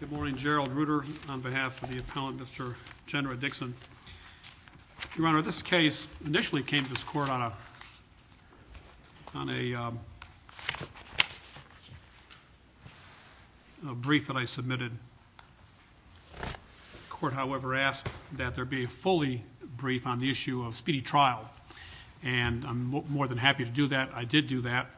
Good morning, Gerald Ruder on behalf of the appellant, Mr. Jenerette Dixon. Your Honor, this case initially came to this court on a brief that I submitted. The court, however, asked that there be a fully brief on the issue of speedy trial, and I'm more than happy to do that. I did do that.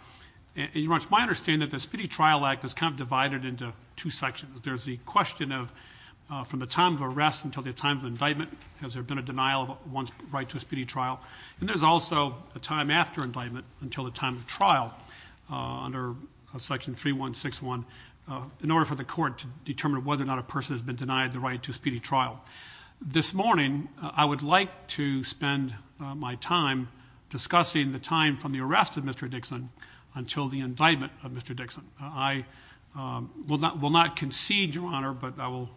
Your Honor, it's my understanding that the Speedy Trial Act is kind of divided into two sections. There's the question of from the time of arrest until the time of indictment, has there been a denial of one's right to a speedy trial? And there's also a time after indictment until the time of trial under section 3161 in order for the court to determine whether or not a person has been denied the right to a speedy trial. morning, I would like to spend my time discussing the time from the arrest of Mr. Dixon until the indictment of Mr. Dixon. I will not concede, Your Honor, but I will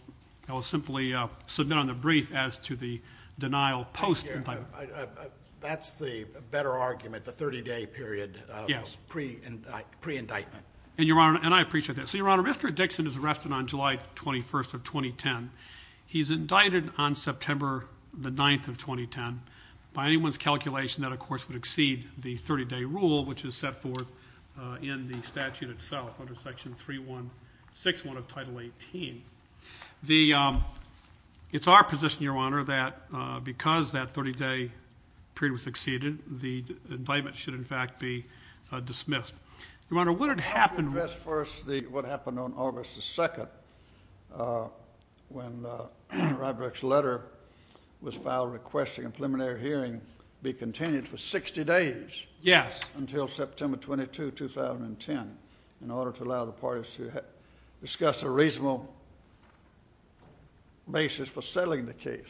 simply submit on the brief as to the denial post-indictment. That's the better argument, the 30-day period pre-indictment. And Your Honor, and I appreciate that. So Your Honor, Mr. Dixon is arrested on July 21st of 2010. He's indicted on September the 9th of 2010. By anyone's calculation, that, of course, would exceed the 30-day rule, which is set forth in the statute itself under section 3161 of Title 18. It's our position, Your Honor, that because that 30-day period was exceeded, the indictment should in fact be dismissed. Your Honor, what had happened? First, what happened on August the 2nd, when Rybrock's letter was filed requesting a preliminary hearing be continued for 60 days. Yes. Until September 22, 2010, in order to allow the parties to discuss a reasonable basis for settling the case.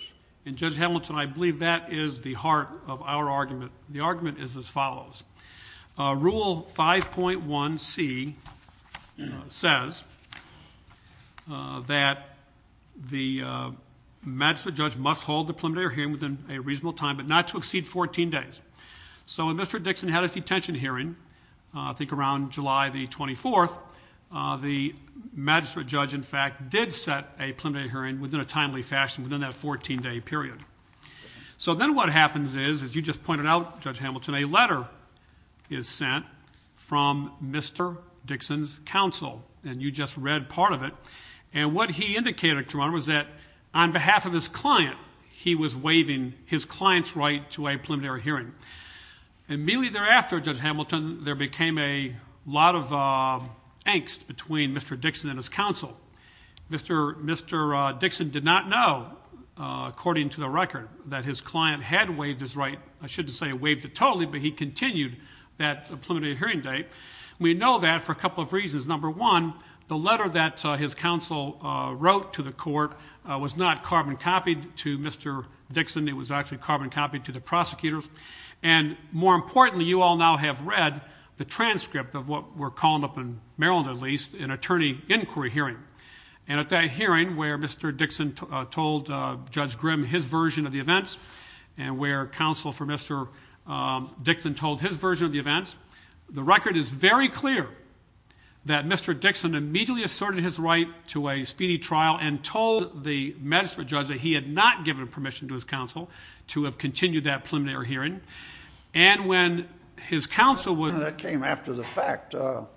And Judge Hamilton, I believe that is the heart of our argument. The argument is as follows. Rule 5.1c says that the magistrate judge must hold the preliminary hearing within a reasonable time, but not to exceed 14 days. So when Mr. Dixon had his detention hearing, I think around July the 24th, the magistrate judge, in fact, did set a preliminary hearing within a timely fashion within that 14-day period. So then what happens is, as you just pointed out, Judge Hamilton, a letter is sent from Mr. Dixon's counsel, and you just read part of it. And what he indicated, Your Honor, was that on behalf of his client, he was waiving his client's right to a preliminary hearing. And immediately thereafter, Judge Hamilton, there became a lot of angst between Mr. Dixon and his counsel. Mr. Dixon did not know, according to the record, that his client had waived his right. I shouldn't say waived it totally, but he continued that preliminary hearing date. We know that for a couple of reasons. Number one, the letter that his counsel wrote to the court was not carbon-copied to Mr. Dixon. It was actually carbon-copied to the prosecutors. And more importantly, you all now have read the transcript of what we're calling up in Maryland, at least, an attorney inquiry hearing. And at that hearing, where Mr. Dixon told Judge Grim his version of the events, and where counsel for Mr. Dixon told his version of the events, the record is very clear that Mr. Dixon immediately asserted his right to a speedy trial and told the magistrate judge that he had not given permission to his counsel to have continued that preliminary hearing. And when his counsel was... That came after the fact. Are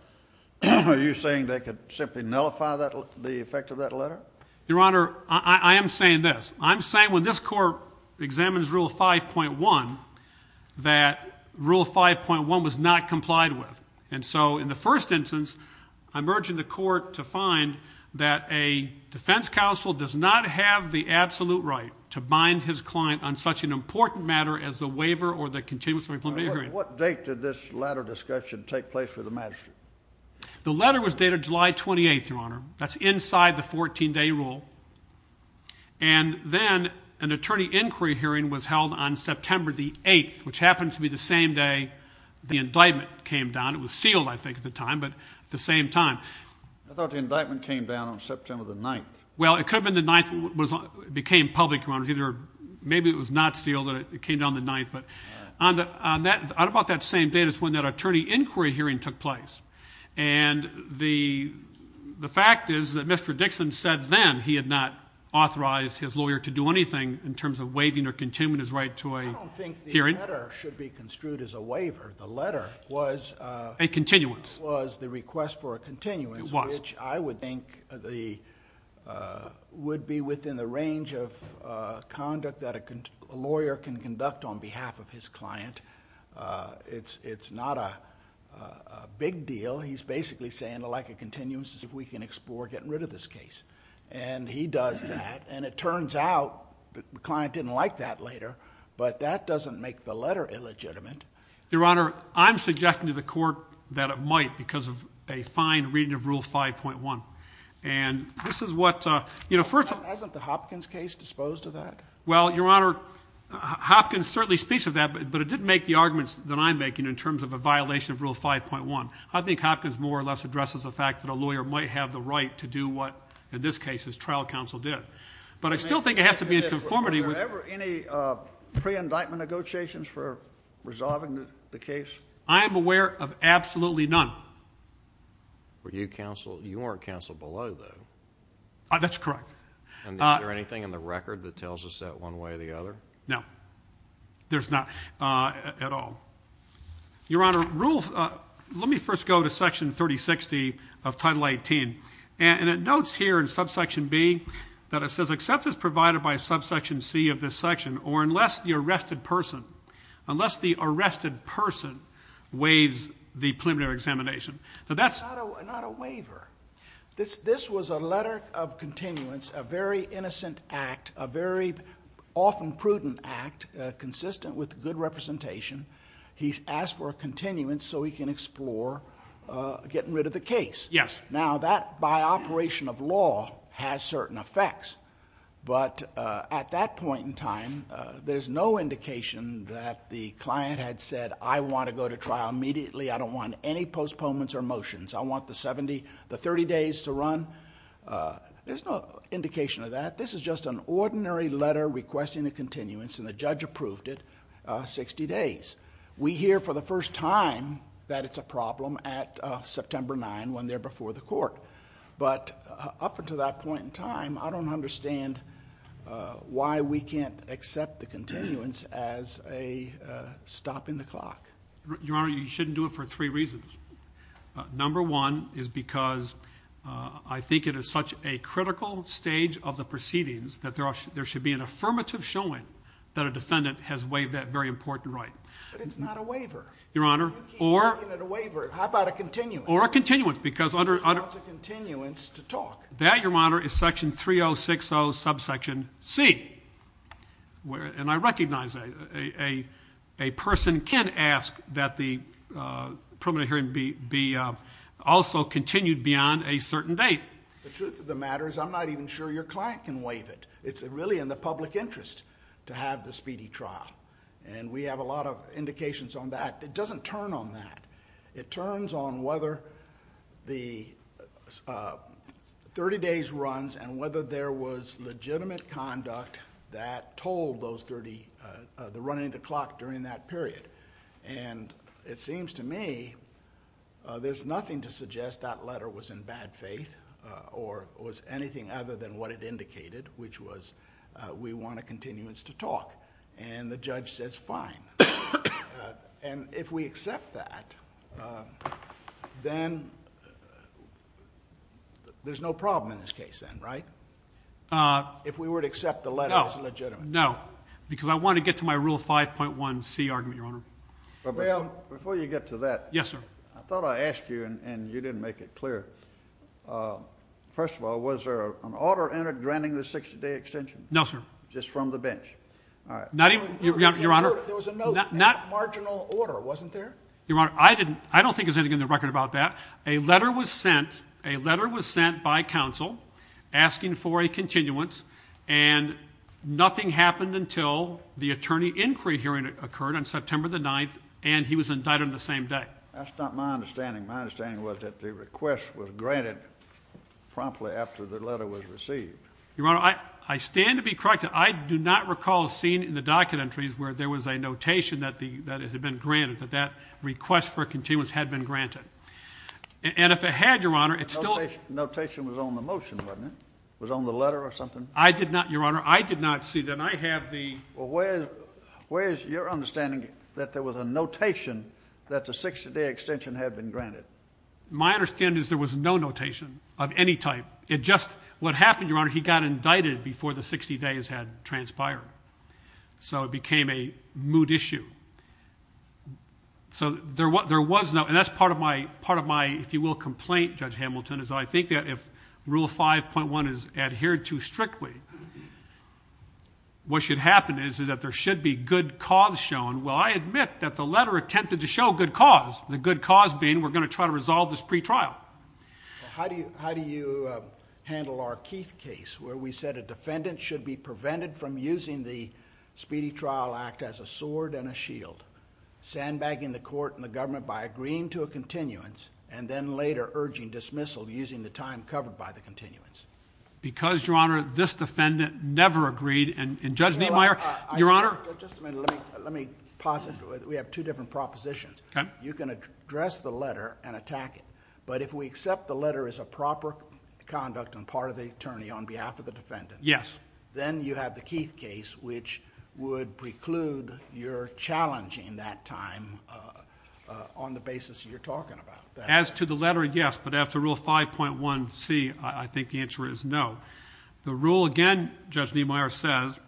you saying they could simply nullify the effect of that letter? Your Honor, I am saying this. I'm saying when this court examines Rule 5.1, that Rule 5.1 was not complied with. And so, in the first instance, I'm urging the court to find that a defense counsel does not have the absolute right to bind his client on such an important matter as the waiver or the continuous preliminary hearing. What date did this letter discussion take place with the rule? And then, an attorney inquiry hearing was held on September the 8th, which happened to be the same day the indictment came down. It was sealed, I think, at the time, but at the same time. I thought the indictment came down on September the 9th. Well, it could have been the 9th. It became public, Your Honor. Maybe it was not sealed. It came down the 9th. But on about that same date is when that attorney inquiry hearing took place. And the fact is that Mr. Dixon said then he had not authorized his lawyer to do anything in terms of waiving or continuing his right to a hearing. I don't think the letter should be construed as a waiver. The letter was... A continuance. Was the request for a continuance, which I would think would be within the range of He's basically saying, I'd like a continuance if we can explore getting rid of this case. And he does that. And it turns out the client didn't like that later, but that doesn't make the letter illegitimate. Your Honor, I'm suggesting to the court that it might because of a fine reading of Rule 5.1. And this is what... Hasn't the Hopkins case disposed of that? Well, Your Honor, Hopkins certainly speaks of that, but it didn't make the arguments that I'm making in terms of a violation of Rule 5.1. I think Hopkins more or less addresses the fact that a lawyer might have the right to do what, in this case, his trial counsel did. But I still think it has to be in conformity with... Were there ever any pre-indictment negotiations for resolving the case? I am aware of absolutely none. Were you counsel... You weren't counsel below though. That's correct. And is there anything in the record that tells us that one way or the other? No. There's not at all. Your Honor, Rule... Let me first go to Section 3060 of Title 18. And it notes here in Subsection B that it says, except as provided by Subsection C of this section or unless the arrested person... Unless the arrested person waives the preliminary examination. But that's... Not a waiver. This was a letter of continuance, a very innocent act, a very often prudent act, consistent with good representation. He's asked for a continuance so he can explore getting rid of the case. Yes. Now that, by operation of law, has certain effects. But at that point in time, there's no indication that the client had said, I want to go to trial immediately. I don't want any postponements or motions. I want the 30 days to run. There's no indication of that. This is just an ordinary letter requesting a continuance. And the judge approved it 60 days. We hear for the first time that it's a problem at September 9, when they're before the court. But up until that point in time, I don't understand why we can't accept the continuance as a stop in the clock. Your Honor, you shouldn't do it for three reasons. Number one is because I think it is such a critical stage of the proceedings that there should be an affirmative showing that a defendant has waived that very important right. But it's not a waiver. Your Honor, or... You keep making it a waiver. How about a continuance? Or a continuance because under... There's not a continuance to talk. That, Your Honor, is section 3060 subsection C. And I recognize that a person can ask that the permanent hearing be also continued beyond a certain date. The truth of the matter is I'm not even sure your client can waive it. It's really in the public interest to have the speedy trial. And we have a lot of indications on that. It doesn't turn on that. It turns on whether the 30 days runs and whether there was legitimate conduct that told the running of the clock during that period. And it seems to me there's nothing to suggest that letter was in bad faith. Or was anything other than what it indicated, which was we want a continuance to talk. And the judge says, fine. And if we accept that, then there's no problem in this case then, right? If we were to accept the letter as legitimate. No. Because I want to get to my rule 5.1c argument, Your Honor. Well, Bill, before you get to that... Yes, sir. I thought I asked you and you didn't make it clear. First of all, was there an order entered granting the 60-day extension? No, sir. Just from the bench? All right. Not even, Your Honor... There was a note in marginal order, wasn't there? Your Honor, I don't think there's anything in the record about that. A letter was sent. A letter was sent by counsel asking for a continuance. And nothing happened until the attorney inquiry hearing occurred on September the 9th. And he was indicted on the same day. That's not my understanding. My understanding was that the request was granted promptly after the letter was received. Your Honor, I stand to be corrected. I do not recall seeing in the docket entries where there was a notation that it had been granted, that that request for a continuance had been granted. And if it had, Your Honor, it still... Notation was on the motion, wasn't it? Was on the letter or something? I did not, Your Honor. I did not see that. And I have the... Well, where is your understanding that there was a notation that the 60-day extension had been granted? My understanding is there was no notation of any type. It just... What happened, Your Honor, he got indicted before the 60 days had transpired. So it became a moot issue. So there was no... And that's part of my, if you will, complaint, Judge Hamilton, is I think that if Rule 5.1 is adhered to strictly, what should happen is that there should be good cause shown. Well, I admit that the letter attempted to show good cause, the good cause being we're going to try to resolve this pretrial. How do you handle our Keith case where we said a defendant should be prevented from using the Speedy Trial Act as a sword and a shield, sandbagging the court and the government by agreeing to a continuance and then later urging dismissal using the time covered by the continuance? Because, Your Honor, this defendant never agreed. And Judge Niemeyer, Your Honor... Just a minute. Let me pause it. We have two different propositions. You can address the letter and attack it. But if we accept the letter as a proper conduct and part of the attorney on behalf of the defendant... Yes. ...then you have the Keith case, which would preclude your challenging that time on the basis you're talking about. As to the letter, yes. But as to Rule 5.1c, I think the answer is no. The rule, again, Judge Niemeyer says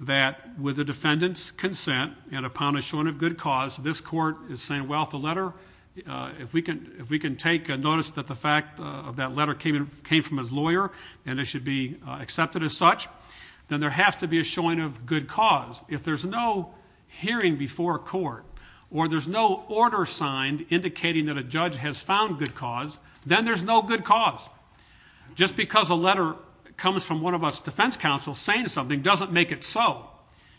that with the defendant's consent and upon a showing of good cause, this court is saying, well, if the letter... If we can take notice that the fact of that letter came from his lawyer and it should be accepted as such, then there has to be a showing of good cause. If there's no hearing before a court or there's no order signed indicating that a judge has found good cause, then there's no good cause. Just because a letter comes from one of us defense counsels saying something doesn't make it so.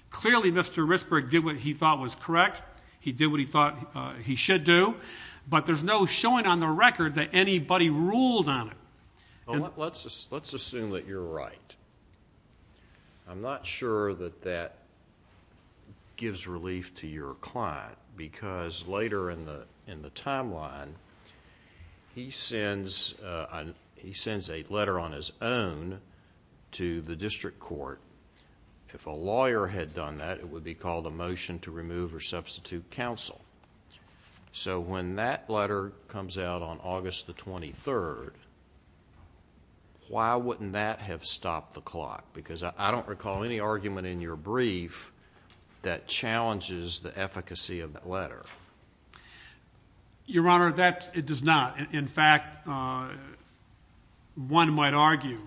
Clearly, Mr. Ritzberg did what he thought was correct. He did what he thought he should do. But there's no showing on the record that anybody ruled on it. Well, let's assume that you're right. I'm not sure that that gives relief to your client because later in the timeline, he sends a letter on his own to the district court. If a lawyer had done that, it would be called a motion to remove or substitute counsel. So when that letter comes out on August the 23rd, why wouldn't that have stopped the clock? Because I don't recall any argument in your brief that challenges the efficacy of that letter. Your Honor, it does not. In fact, one might argue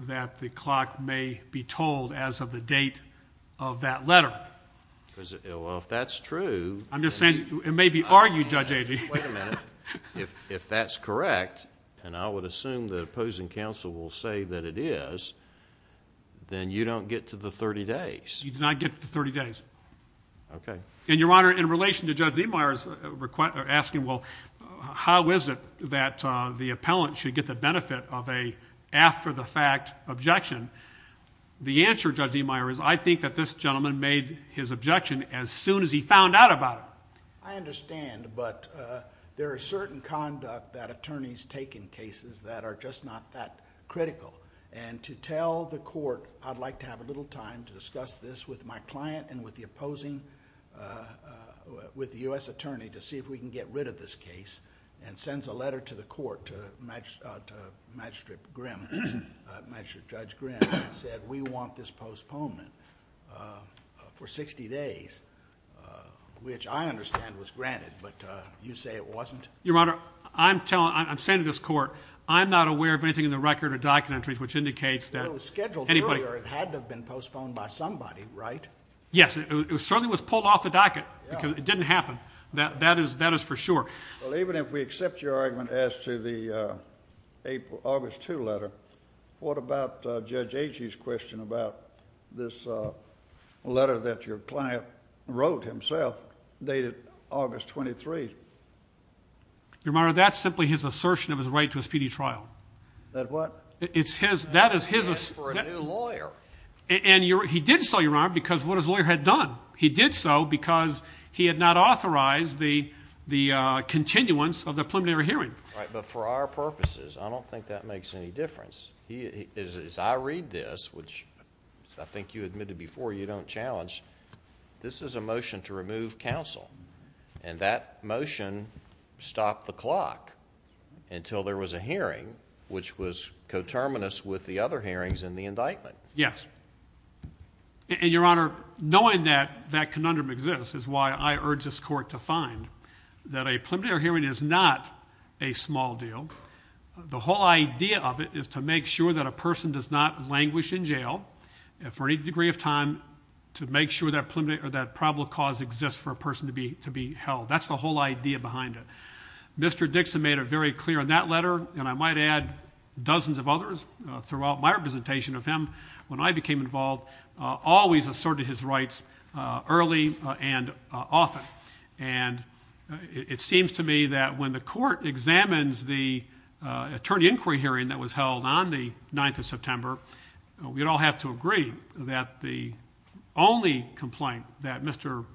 that the clock may be told as of the date of that letter. Well, if that's true. I'm just saying it may be argued, Judge Agee. Wait a minute. If that's correct, and I would assume the opposing counsel will say that it is, then you don't get to the 30 days. You do not get to the 30 days. Okay. And Your Honor, in relation to Judge Diemeier asking, well, how is it that the appellant should get the benefit of a after the fact objection? The answer, Judge Diemeier, is I think that this gentleman made his objection as soon as he found out about it. I understand, but there are certain conduct that attorneys take in cases that are just not that critical. And to tell the court, I'd like to have a little time to discuss this with my client and with the opposing, with the U.S. attorney to see if we can get rid of this case, and sends a letter to the court, to Magistrate Grimm, Magistrate Judge Grimm, that said, we want this postponement for 60 days, which I understand was granted, but you say it wasn't? Your Honor, I'm telling, I'm saying to this court, I'm not aware of anything in the record or documentaries which indicates that anybody- It was scheduled earlier. It had to have been postponed by somebody, right? Yes, it certainly was pulled off the docket because it didn't happen. That is for sure. Well, even if we accept your argument as to the August 2 letter, what about Judge Agee's question about this letter that your client wrote himself dated August 23? Your Honor, that's simply his assertion of his right to a speedy trial. That what? It's his, that is his- That's for a new lawyer. And he did so, Your Honor, because what his lawyer had done. He did so because he had not authorized the continuance of the preliminary hearing. Right, but for our purposes, I don't think that makes any difference. As I read this, which I think you admitted before you don't challenge, this is a motion to remove counsel. And that motion stopped the clock until there was a hearing which was coterminous with the other hearings in the indictment. Yes, and Your Honor, knowing that that conundrum exists is why I urge this court to find that a preliminary hearing is not a small deal. The whole idea of it is to make sure that a person does not languish in jail for any degree of time to make sure that probable cause exists for a person to be held. That's the whole idea behind it. Mr. Dixon made it very clear in that letter, and I might add dozens of others throughout my representation of him, when I became involved, always asserted his rights early and often. And it seems to me that when the court examines the attorney inquiry hearing that was held on the 9th of September, we'd all have to agree that the only complaint that Mr.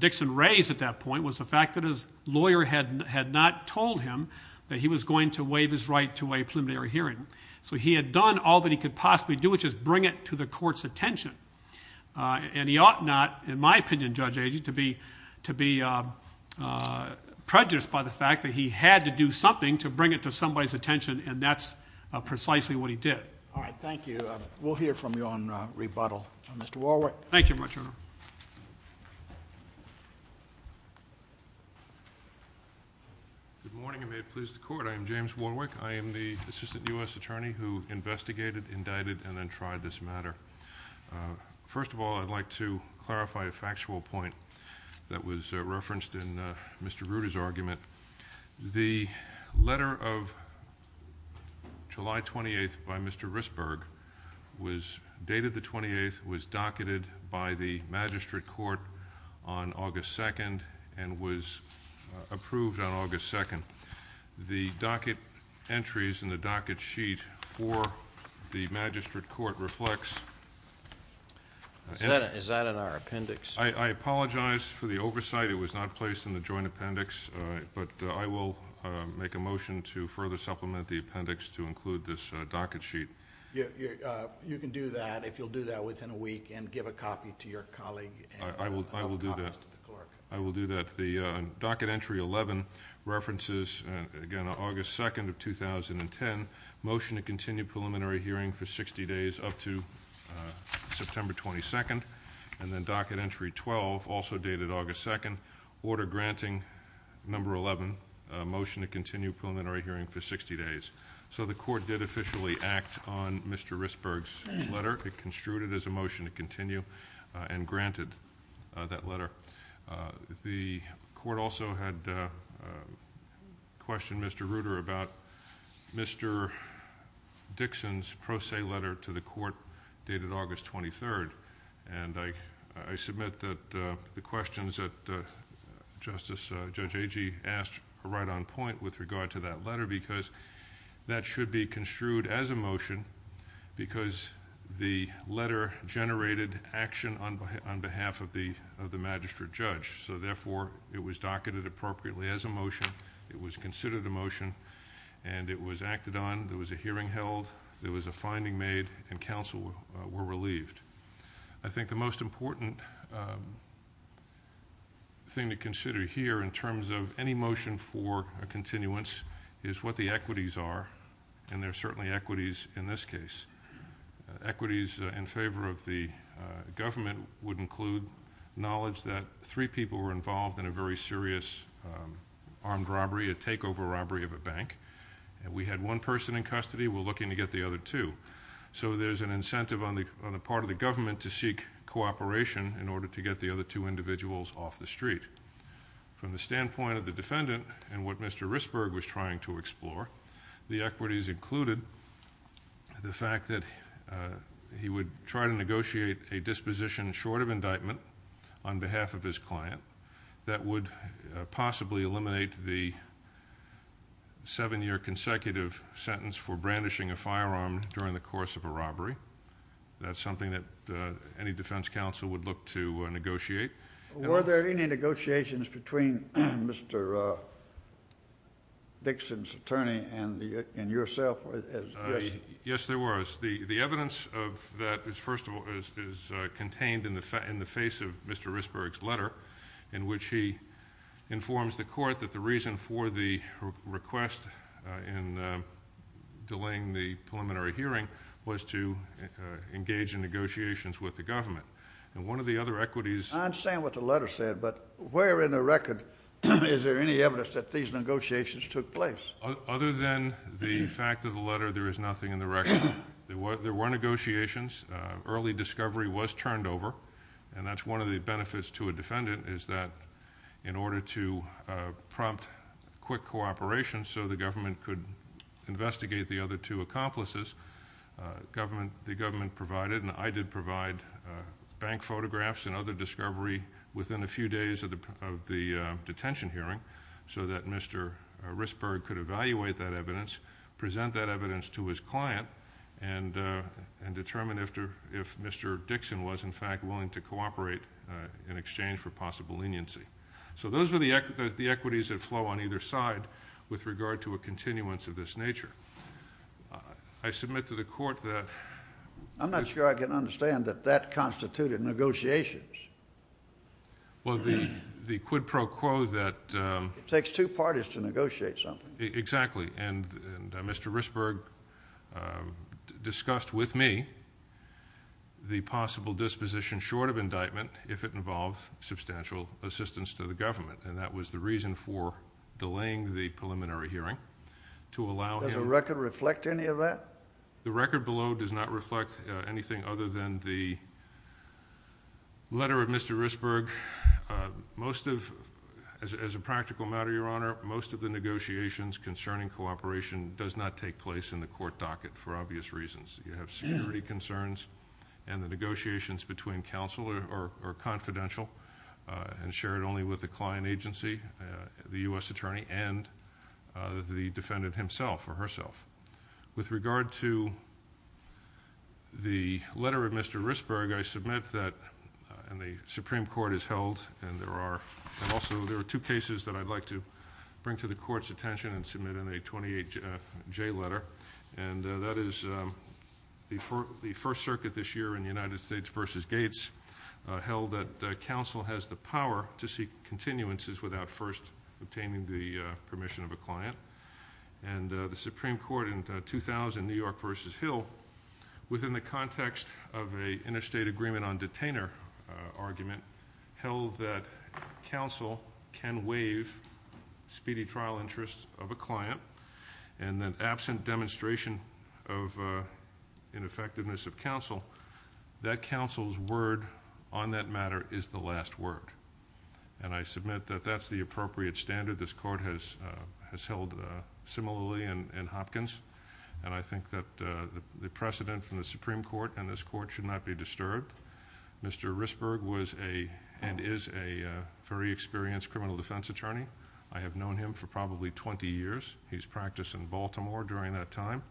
Dixon raised at that point was the fact that his lawyer had not told him that he was going to waive his right to a preliminary hearing. So he had done all that he could possibly do, which is bring it to the court's attention. And he ought not, in my opinion, Judge Agee, to be prejudiced by the fact that he had to do something to bring it to somebody's attention, and that's precisely what he did. All right. Thank you. We'll hear from you on rebuttal. Mr. Warwick. Thank you, Your Honor. Good morning, and may it please the court. I am James Warwick. I am the assistant U.S. attorney who investigated, indicted, and then tried this matter. First of all, I'd like to clarify a factual point that was referenced in Mr. Rueda's argument. The letter of July 28th by Mr. Risberg was dated the 28th, was docketed by the magistrate court on August 2nd, and was approved on August 2nd. The docket entries in the docket sheet for the magistrate court reflects... Is that in our appendix? I apologize for the oversight. It was not placed in the joint appendix, but I will make a motion to further supplement the appendix to include this docket sheet. You can do that, if you'll do that within a week, and give a copy to your colleague. I will do that. I will do that. Docket entry 11 references, again, August 2nd of 2010, motion to continue preliminary hearing for 60 days up to September 22nd, and then docket entry 12, also dated August 2nd, order granting number 11, motion to continue preliminary hearing for 60 days. So the court did officially act on Mr. Risberg's letter. It construed it as a motion to continue and granted that letter. The court also had questioned Mr. Rutter about Mr. Dixon's pro se letter to the court, dated August 23rd. And I submit that the questions that Justice, Judge Agee asked are right on point with regard to that letter, because that should be construed as a motion, because the letter generated action on behalf of the magistrate judge. So therefore, it was docketed appropriately as a motion. It was considered a motion, and it was acted on. There was a hearing held. There was a finding made, and counsel were relieved. I think the most important thing to consider here, in terms of any motion for a continuance, is what the equities are, and there are certainly equities in this case. Equities in favor of the government would include knowledge that three people were involved in a very serious armed robbery, a takeover robbery of a bank. We had one person in custody. We're looking to get the other two. So there's an incentive on the part of the government to seek cooperation in order to get the other two individuals off the street. From the standpoint of the defendant and what Mr. Risberg was trying to explore, the equities included the fact that he would try to negotiate a disposition short of indictment on behalf of his client that would possibly eliminate the seven-year consecutive sentence for brandishing a firearm during the course of a robbery. That's something that any defense counsel would look to negotiate. Were there any negotiations between Mr. Dixon's attorney and yourself? Yes, there was. The evidence of that is contained in the face of Mr. Risberg's letter, in which he informs the court that the reason for the request in delaying the preliminary hearing was to engage in negotiations with the government. And one of the other equities... I understand what the letter said, but where in the record is there any evidence that these negotiations took place? Other than the fact of the letter, there is nothing in the record. There were negotiations. Early discovery was turned over. And that's one of the benefits to a defendant, is that in order to prompt quick cooperation so the government could investigate the other two accomplices, the government provided, and I did provide, bank photographs and other discovery within a few days of the detention hearing so that Mr. Risberg could evaluate that evidence, present that evidence to his client, and determine if Mr. Dixon was, in fact, willing to cooperate in exchange for possible leniency. So those were the equities that flow on either side with regard to a continuance of this nature. I submit to the court that... I'm not sure I can understand that that constituted negotiations. Well, the quid pro quo that... It takes two parties to negotiate something. Exactly. And Mr. Risberg discussed with me the possible disposition short of indictment if it involved substantial assistance to the government. And that was the reason for delaying the preliminary hearing, to allow him... Does the record reflect any of that? The record below does not reflect anything other than the letter of Mr. Risberg. Most of... As a practical matter, Your Honor, most of the negotiations concerning cooperation does not take place in the court docket for obvious reasons. You have security concerns, and the negotiations between counsel are confidential and shared only with the client agency, the U.S. attorney, and the defendant himself or herself. With regard to the letter of Mr. Risberg, I submit that... And the Supreme Court has held, and there are... And also, there are two cases that I'd like to bring to the court's attention and submit in a 28J letter, and that is the First Circuit this year in the United States versus Gates held that counsel has the power to seek continuances without first obtaining the permission of a client. And the Supreme Court in 2000, New York versus Hill, within the context of an interstate agreement on detainer argument, held that counsel can waive speedy trial interests of a client, and that absent demonstration of ineffectiveness of counsel, that counsel's word on that matter is the last word. And I submit that that's the appropriate standard. This court has held similarly in Hopkins, and I think that the precedent from the Supreme Court and this court should not be disturbed. Mr. Risberg was and is a very experienced criminal defense attorney. I have known him for probably 20 years. He's practiced in Baltimore during that time,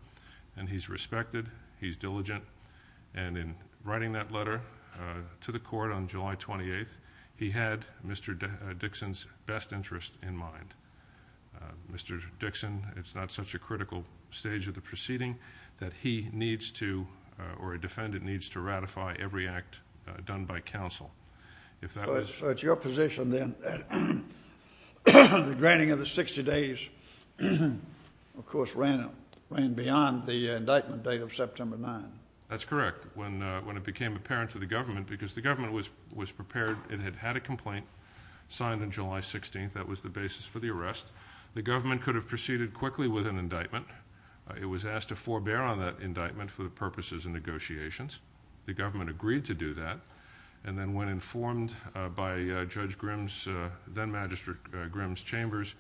and he's respected. He's diligent. And in writing that letter to the court on July 28th, he had Mr. Dixon's best interest in mind. Mr. Dixon, it's not such a critical stage of the proceeding that he needs to, or a defendant needs to, ratify every act done by counsel. If that was your position, then the granting of the 60 days, of course, ran beyond the indictment date of September 9th. That's correct, when it became apparent to the government, because the government was prepared. It had had a complaint signed on July 16th. That was the basis for the arrest. The government could have proceeded quickly with an indictment. It was asked to forbear on that indictment for the purposes of negotiations. The government agreed to do that. And then when informed by Judge Grimm's, then Magistrate Grimm's chambers,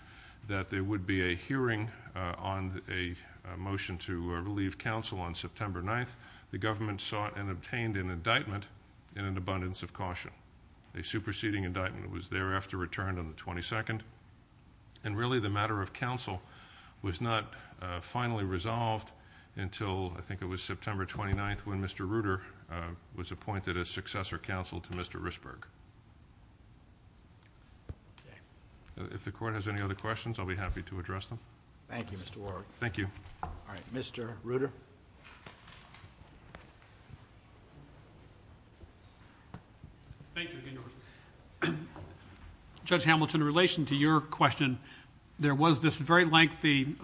that there would be a hearing on a motion to relieve counsel on September 9th, the government sought and obtained an indictment in an abundance of caution. A superseding indictment was thereafter returned on the 22nd. And really, the matter of counsel was not finally resolved until, I think it was September 29th, when Mr. Reuter was appointed as successor counsel to Mr. Risberg. Okay. If the Court has any other questions, I'll be happy to address them. Thank you, Mr. Warwick. Thank you. All right. Mr. Reuter. Thank you, Your Honor. Judge Hamilton, in relation to your question, there was this very lengthy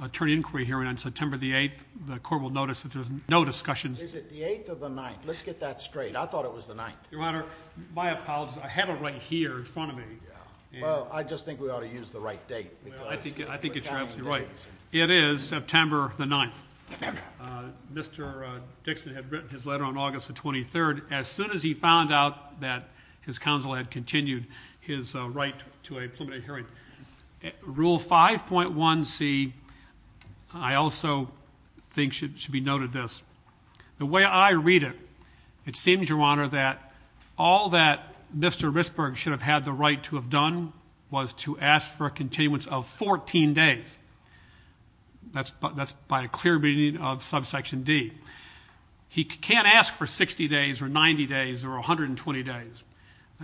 attorney inquiry hearing on September the 8th. The Court will notice that there's no discussions. Is it the 8th or the 9th? Let's get that straight. I thought it was the 9th. Your Honor, my apologies. I have it right here in front of me. Well, I just think we ought to use the right date. I think you're absolutely right. It is September the 9th. Mr. Dixon had written his letter on August the 23rd. As soon as he found out that his counsel had continued his right to a preliminary hearing. Rule 5.1c, I also think should be noted this. The way I read it, it seems, Your Honor, that all that Mr. Risberg should have had the right to have done was to ask for a continuance of 14 days. That's by a clear reading of subsection D. He can't ask for 60 days or 90 days or 120 days.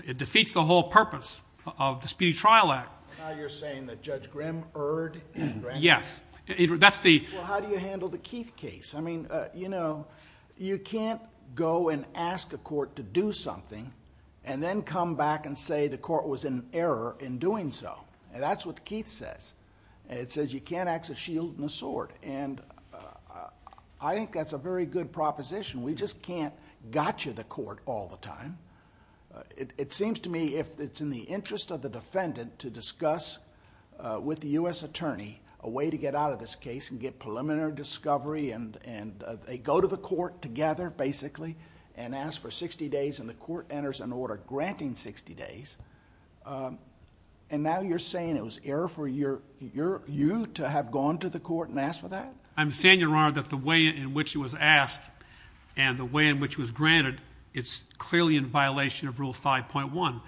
It defeats the whole purpose of the Speedy Trial Act. Now you're saying that Judge Grimm erred? Yes. That's the... Well, how do you handle the Keith case? You know, you can't go and ask a court to do something and then come back and say the court was in error in doing so. That's what the Keith says. It says you can't axe a shield and a sword. I think that's a very good proposition. We just can't gotcha the court all the time. It seems to me if it's in the interest of the defendant to discuss with the U.S. attorney a way to get out of this case and get preliminary discovery and they go to the court together basically and ask for 60 days and the court enters an order granting 60 days and now you're saying it was error for you to have gone to the court and asked for that? I'm saying, Your Honor, that the way in which it was asked and the way in which it was granted, it's clearly in violation of Rule 5.1.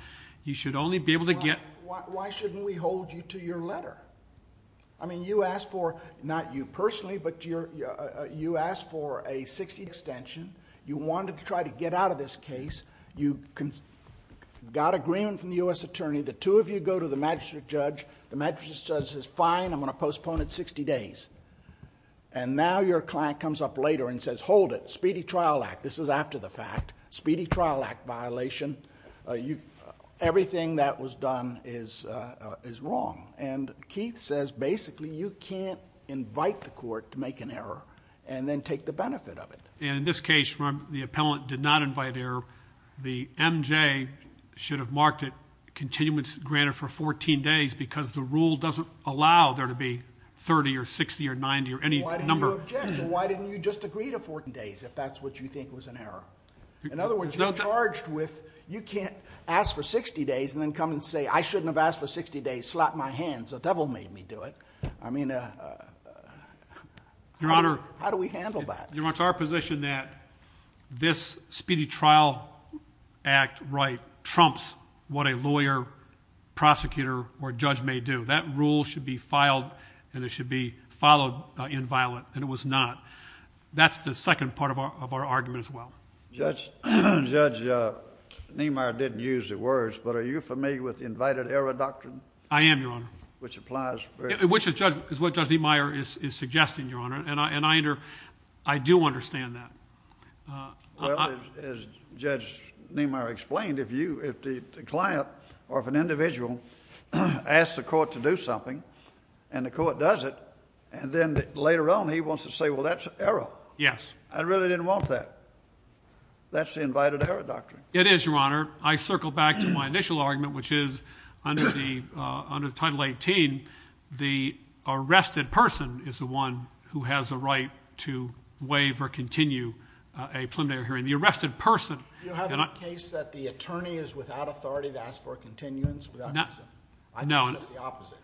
You should only be able to get... Why shouldn't we hold you to your letter? You asked for, not you personally, but you asked for a 60 extension. You wanted to try to get out of this case. You got agreement from the U.S. attorney. The two of you go to the magistrate judge. The magistrate judge says fine, I'm going to postpone it 60 days and now your client comes up later and says hold it. Speedy Trial Act. This is after the fact. Speedy Trial Act violation. Everything that was done is wrong and Keith says basically you can't invite the court to make an error and then take the benefit of it. And in this case, the appellant did not invite error. The MJ should have marked it continuance granted for 14 days because the rule doesn't allow there to be 30 or 60 or 90 or any number. Why didn't you just agree to 14 days if that's what you think was an error? In other words, you're charged with you can't ask for 60 days and then come and say I shouldn't have asked for 60 days. Slap my hands. The devil made me do it. I mean, how do we handle that? Your Honor, it's our position that this Speedy Trial Act right trumps what a lawyer, prosecutor, or judge may do. That rule should be filed and it should be followed in violent That's the second part of our argument as well. Judge Niemeyer didn't use the words, but are you familiar with the invited error doctrine? I am, Your Honor. Which applies. Which is what Judge Niemeyer is suggesting, Your Honor. And I do understand that. Well, as Judge Niemeyer explained, if the client or if an individual asks the court to do something and the court does it and then later on he wants to say well that's error. Yes. I really didn't want that. That's the invited error doctrine. It is, Your Honor. I circle back to my initial argument which is under the title 18 the arrested person is the one who has a right to waive or continue a preliminary hearing. The arrested person. Do you have a case that the attorney is without authority to ask for a continuance? I think it's just the opposite.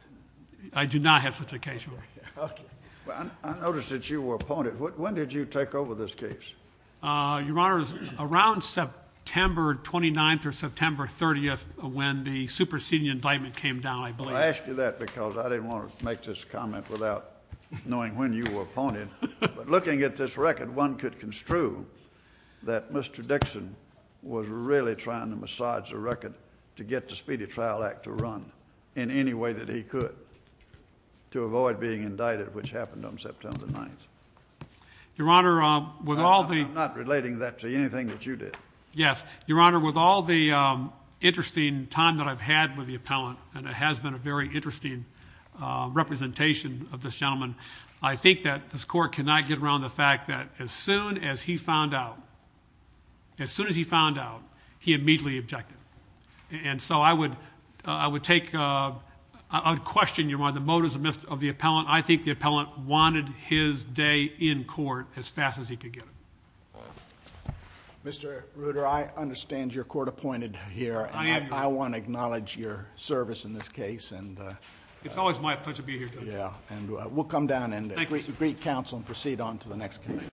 I do not have such a case, Your Honor. Okay. Well, I noticed that you were appointed. When did you take over this case? Your Honor, around September 29th or September 30th when the superseding indictment came down, I believe. I asked you that because I didn't want to make this comment without knowing when you were appointed. But looking at this record, one could construe that Mr. Dixon was really trying to massage the record to get the Speedy Trial Act to run in any way that he could to avoid being indicted which happened on September 9th. Your Honor, with all the... I'm not relating that to anything that you did. Yes. Your Honor, with all the interesting time that I've had with the appellant and it has been a very interesting representation of this gentleman, I think that this court cannot get around the fact that as soon as he found out, as soon as he found out, he immediately objected. And so I would take a question, Your Honor, the motives of the appellant. I think the appellant wanted his day in court as fast as he could get it. Mr. Reuter, I understand you're court-appointed here. I am, Your Honor. I want to acknowledge your service in this case and... It's always my pleasure to be here, Judge. Yeah, and we'll come down and greet counsel and proceed on to the next case.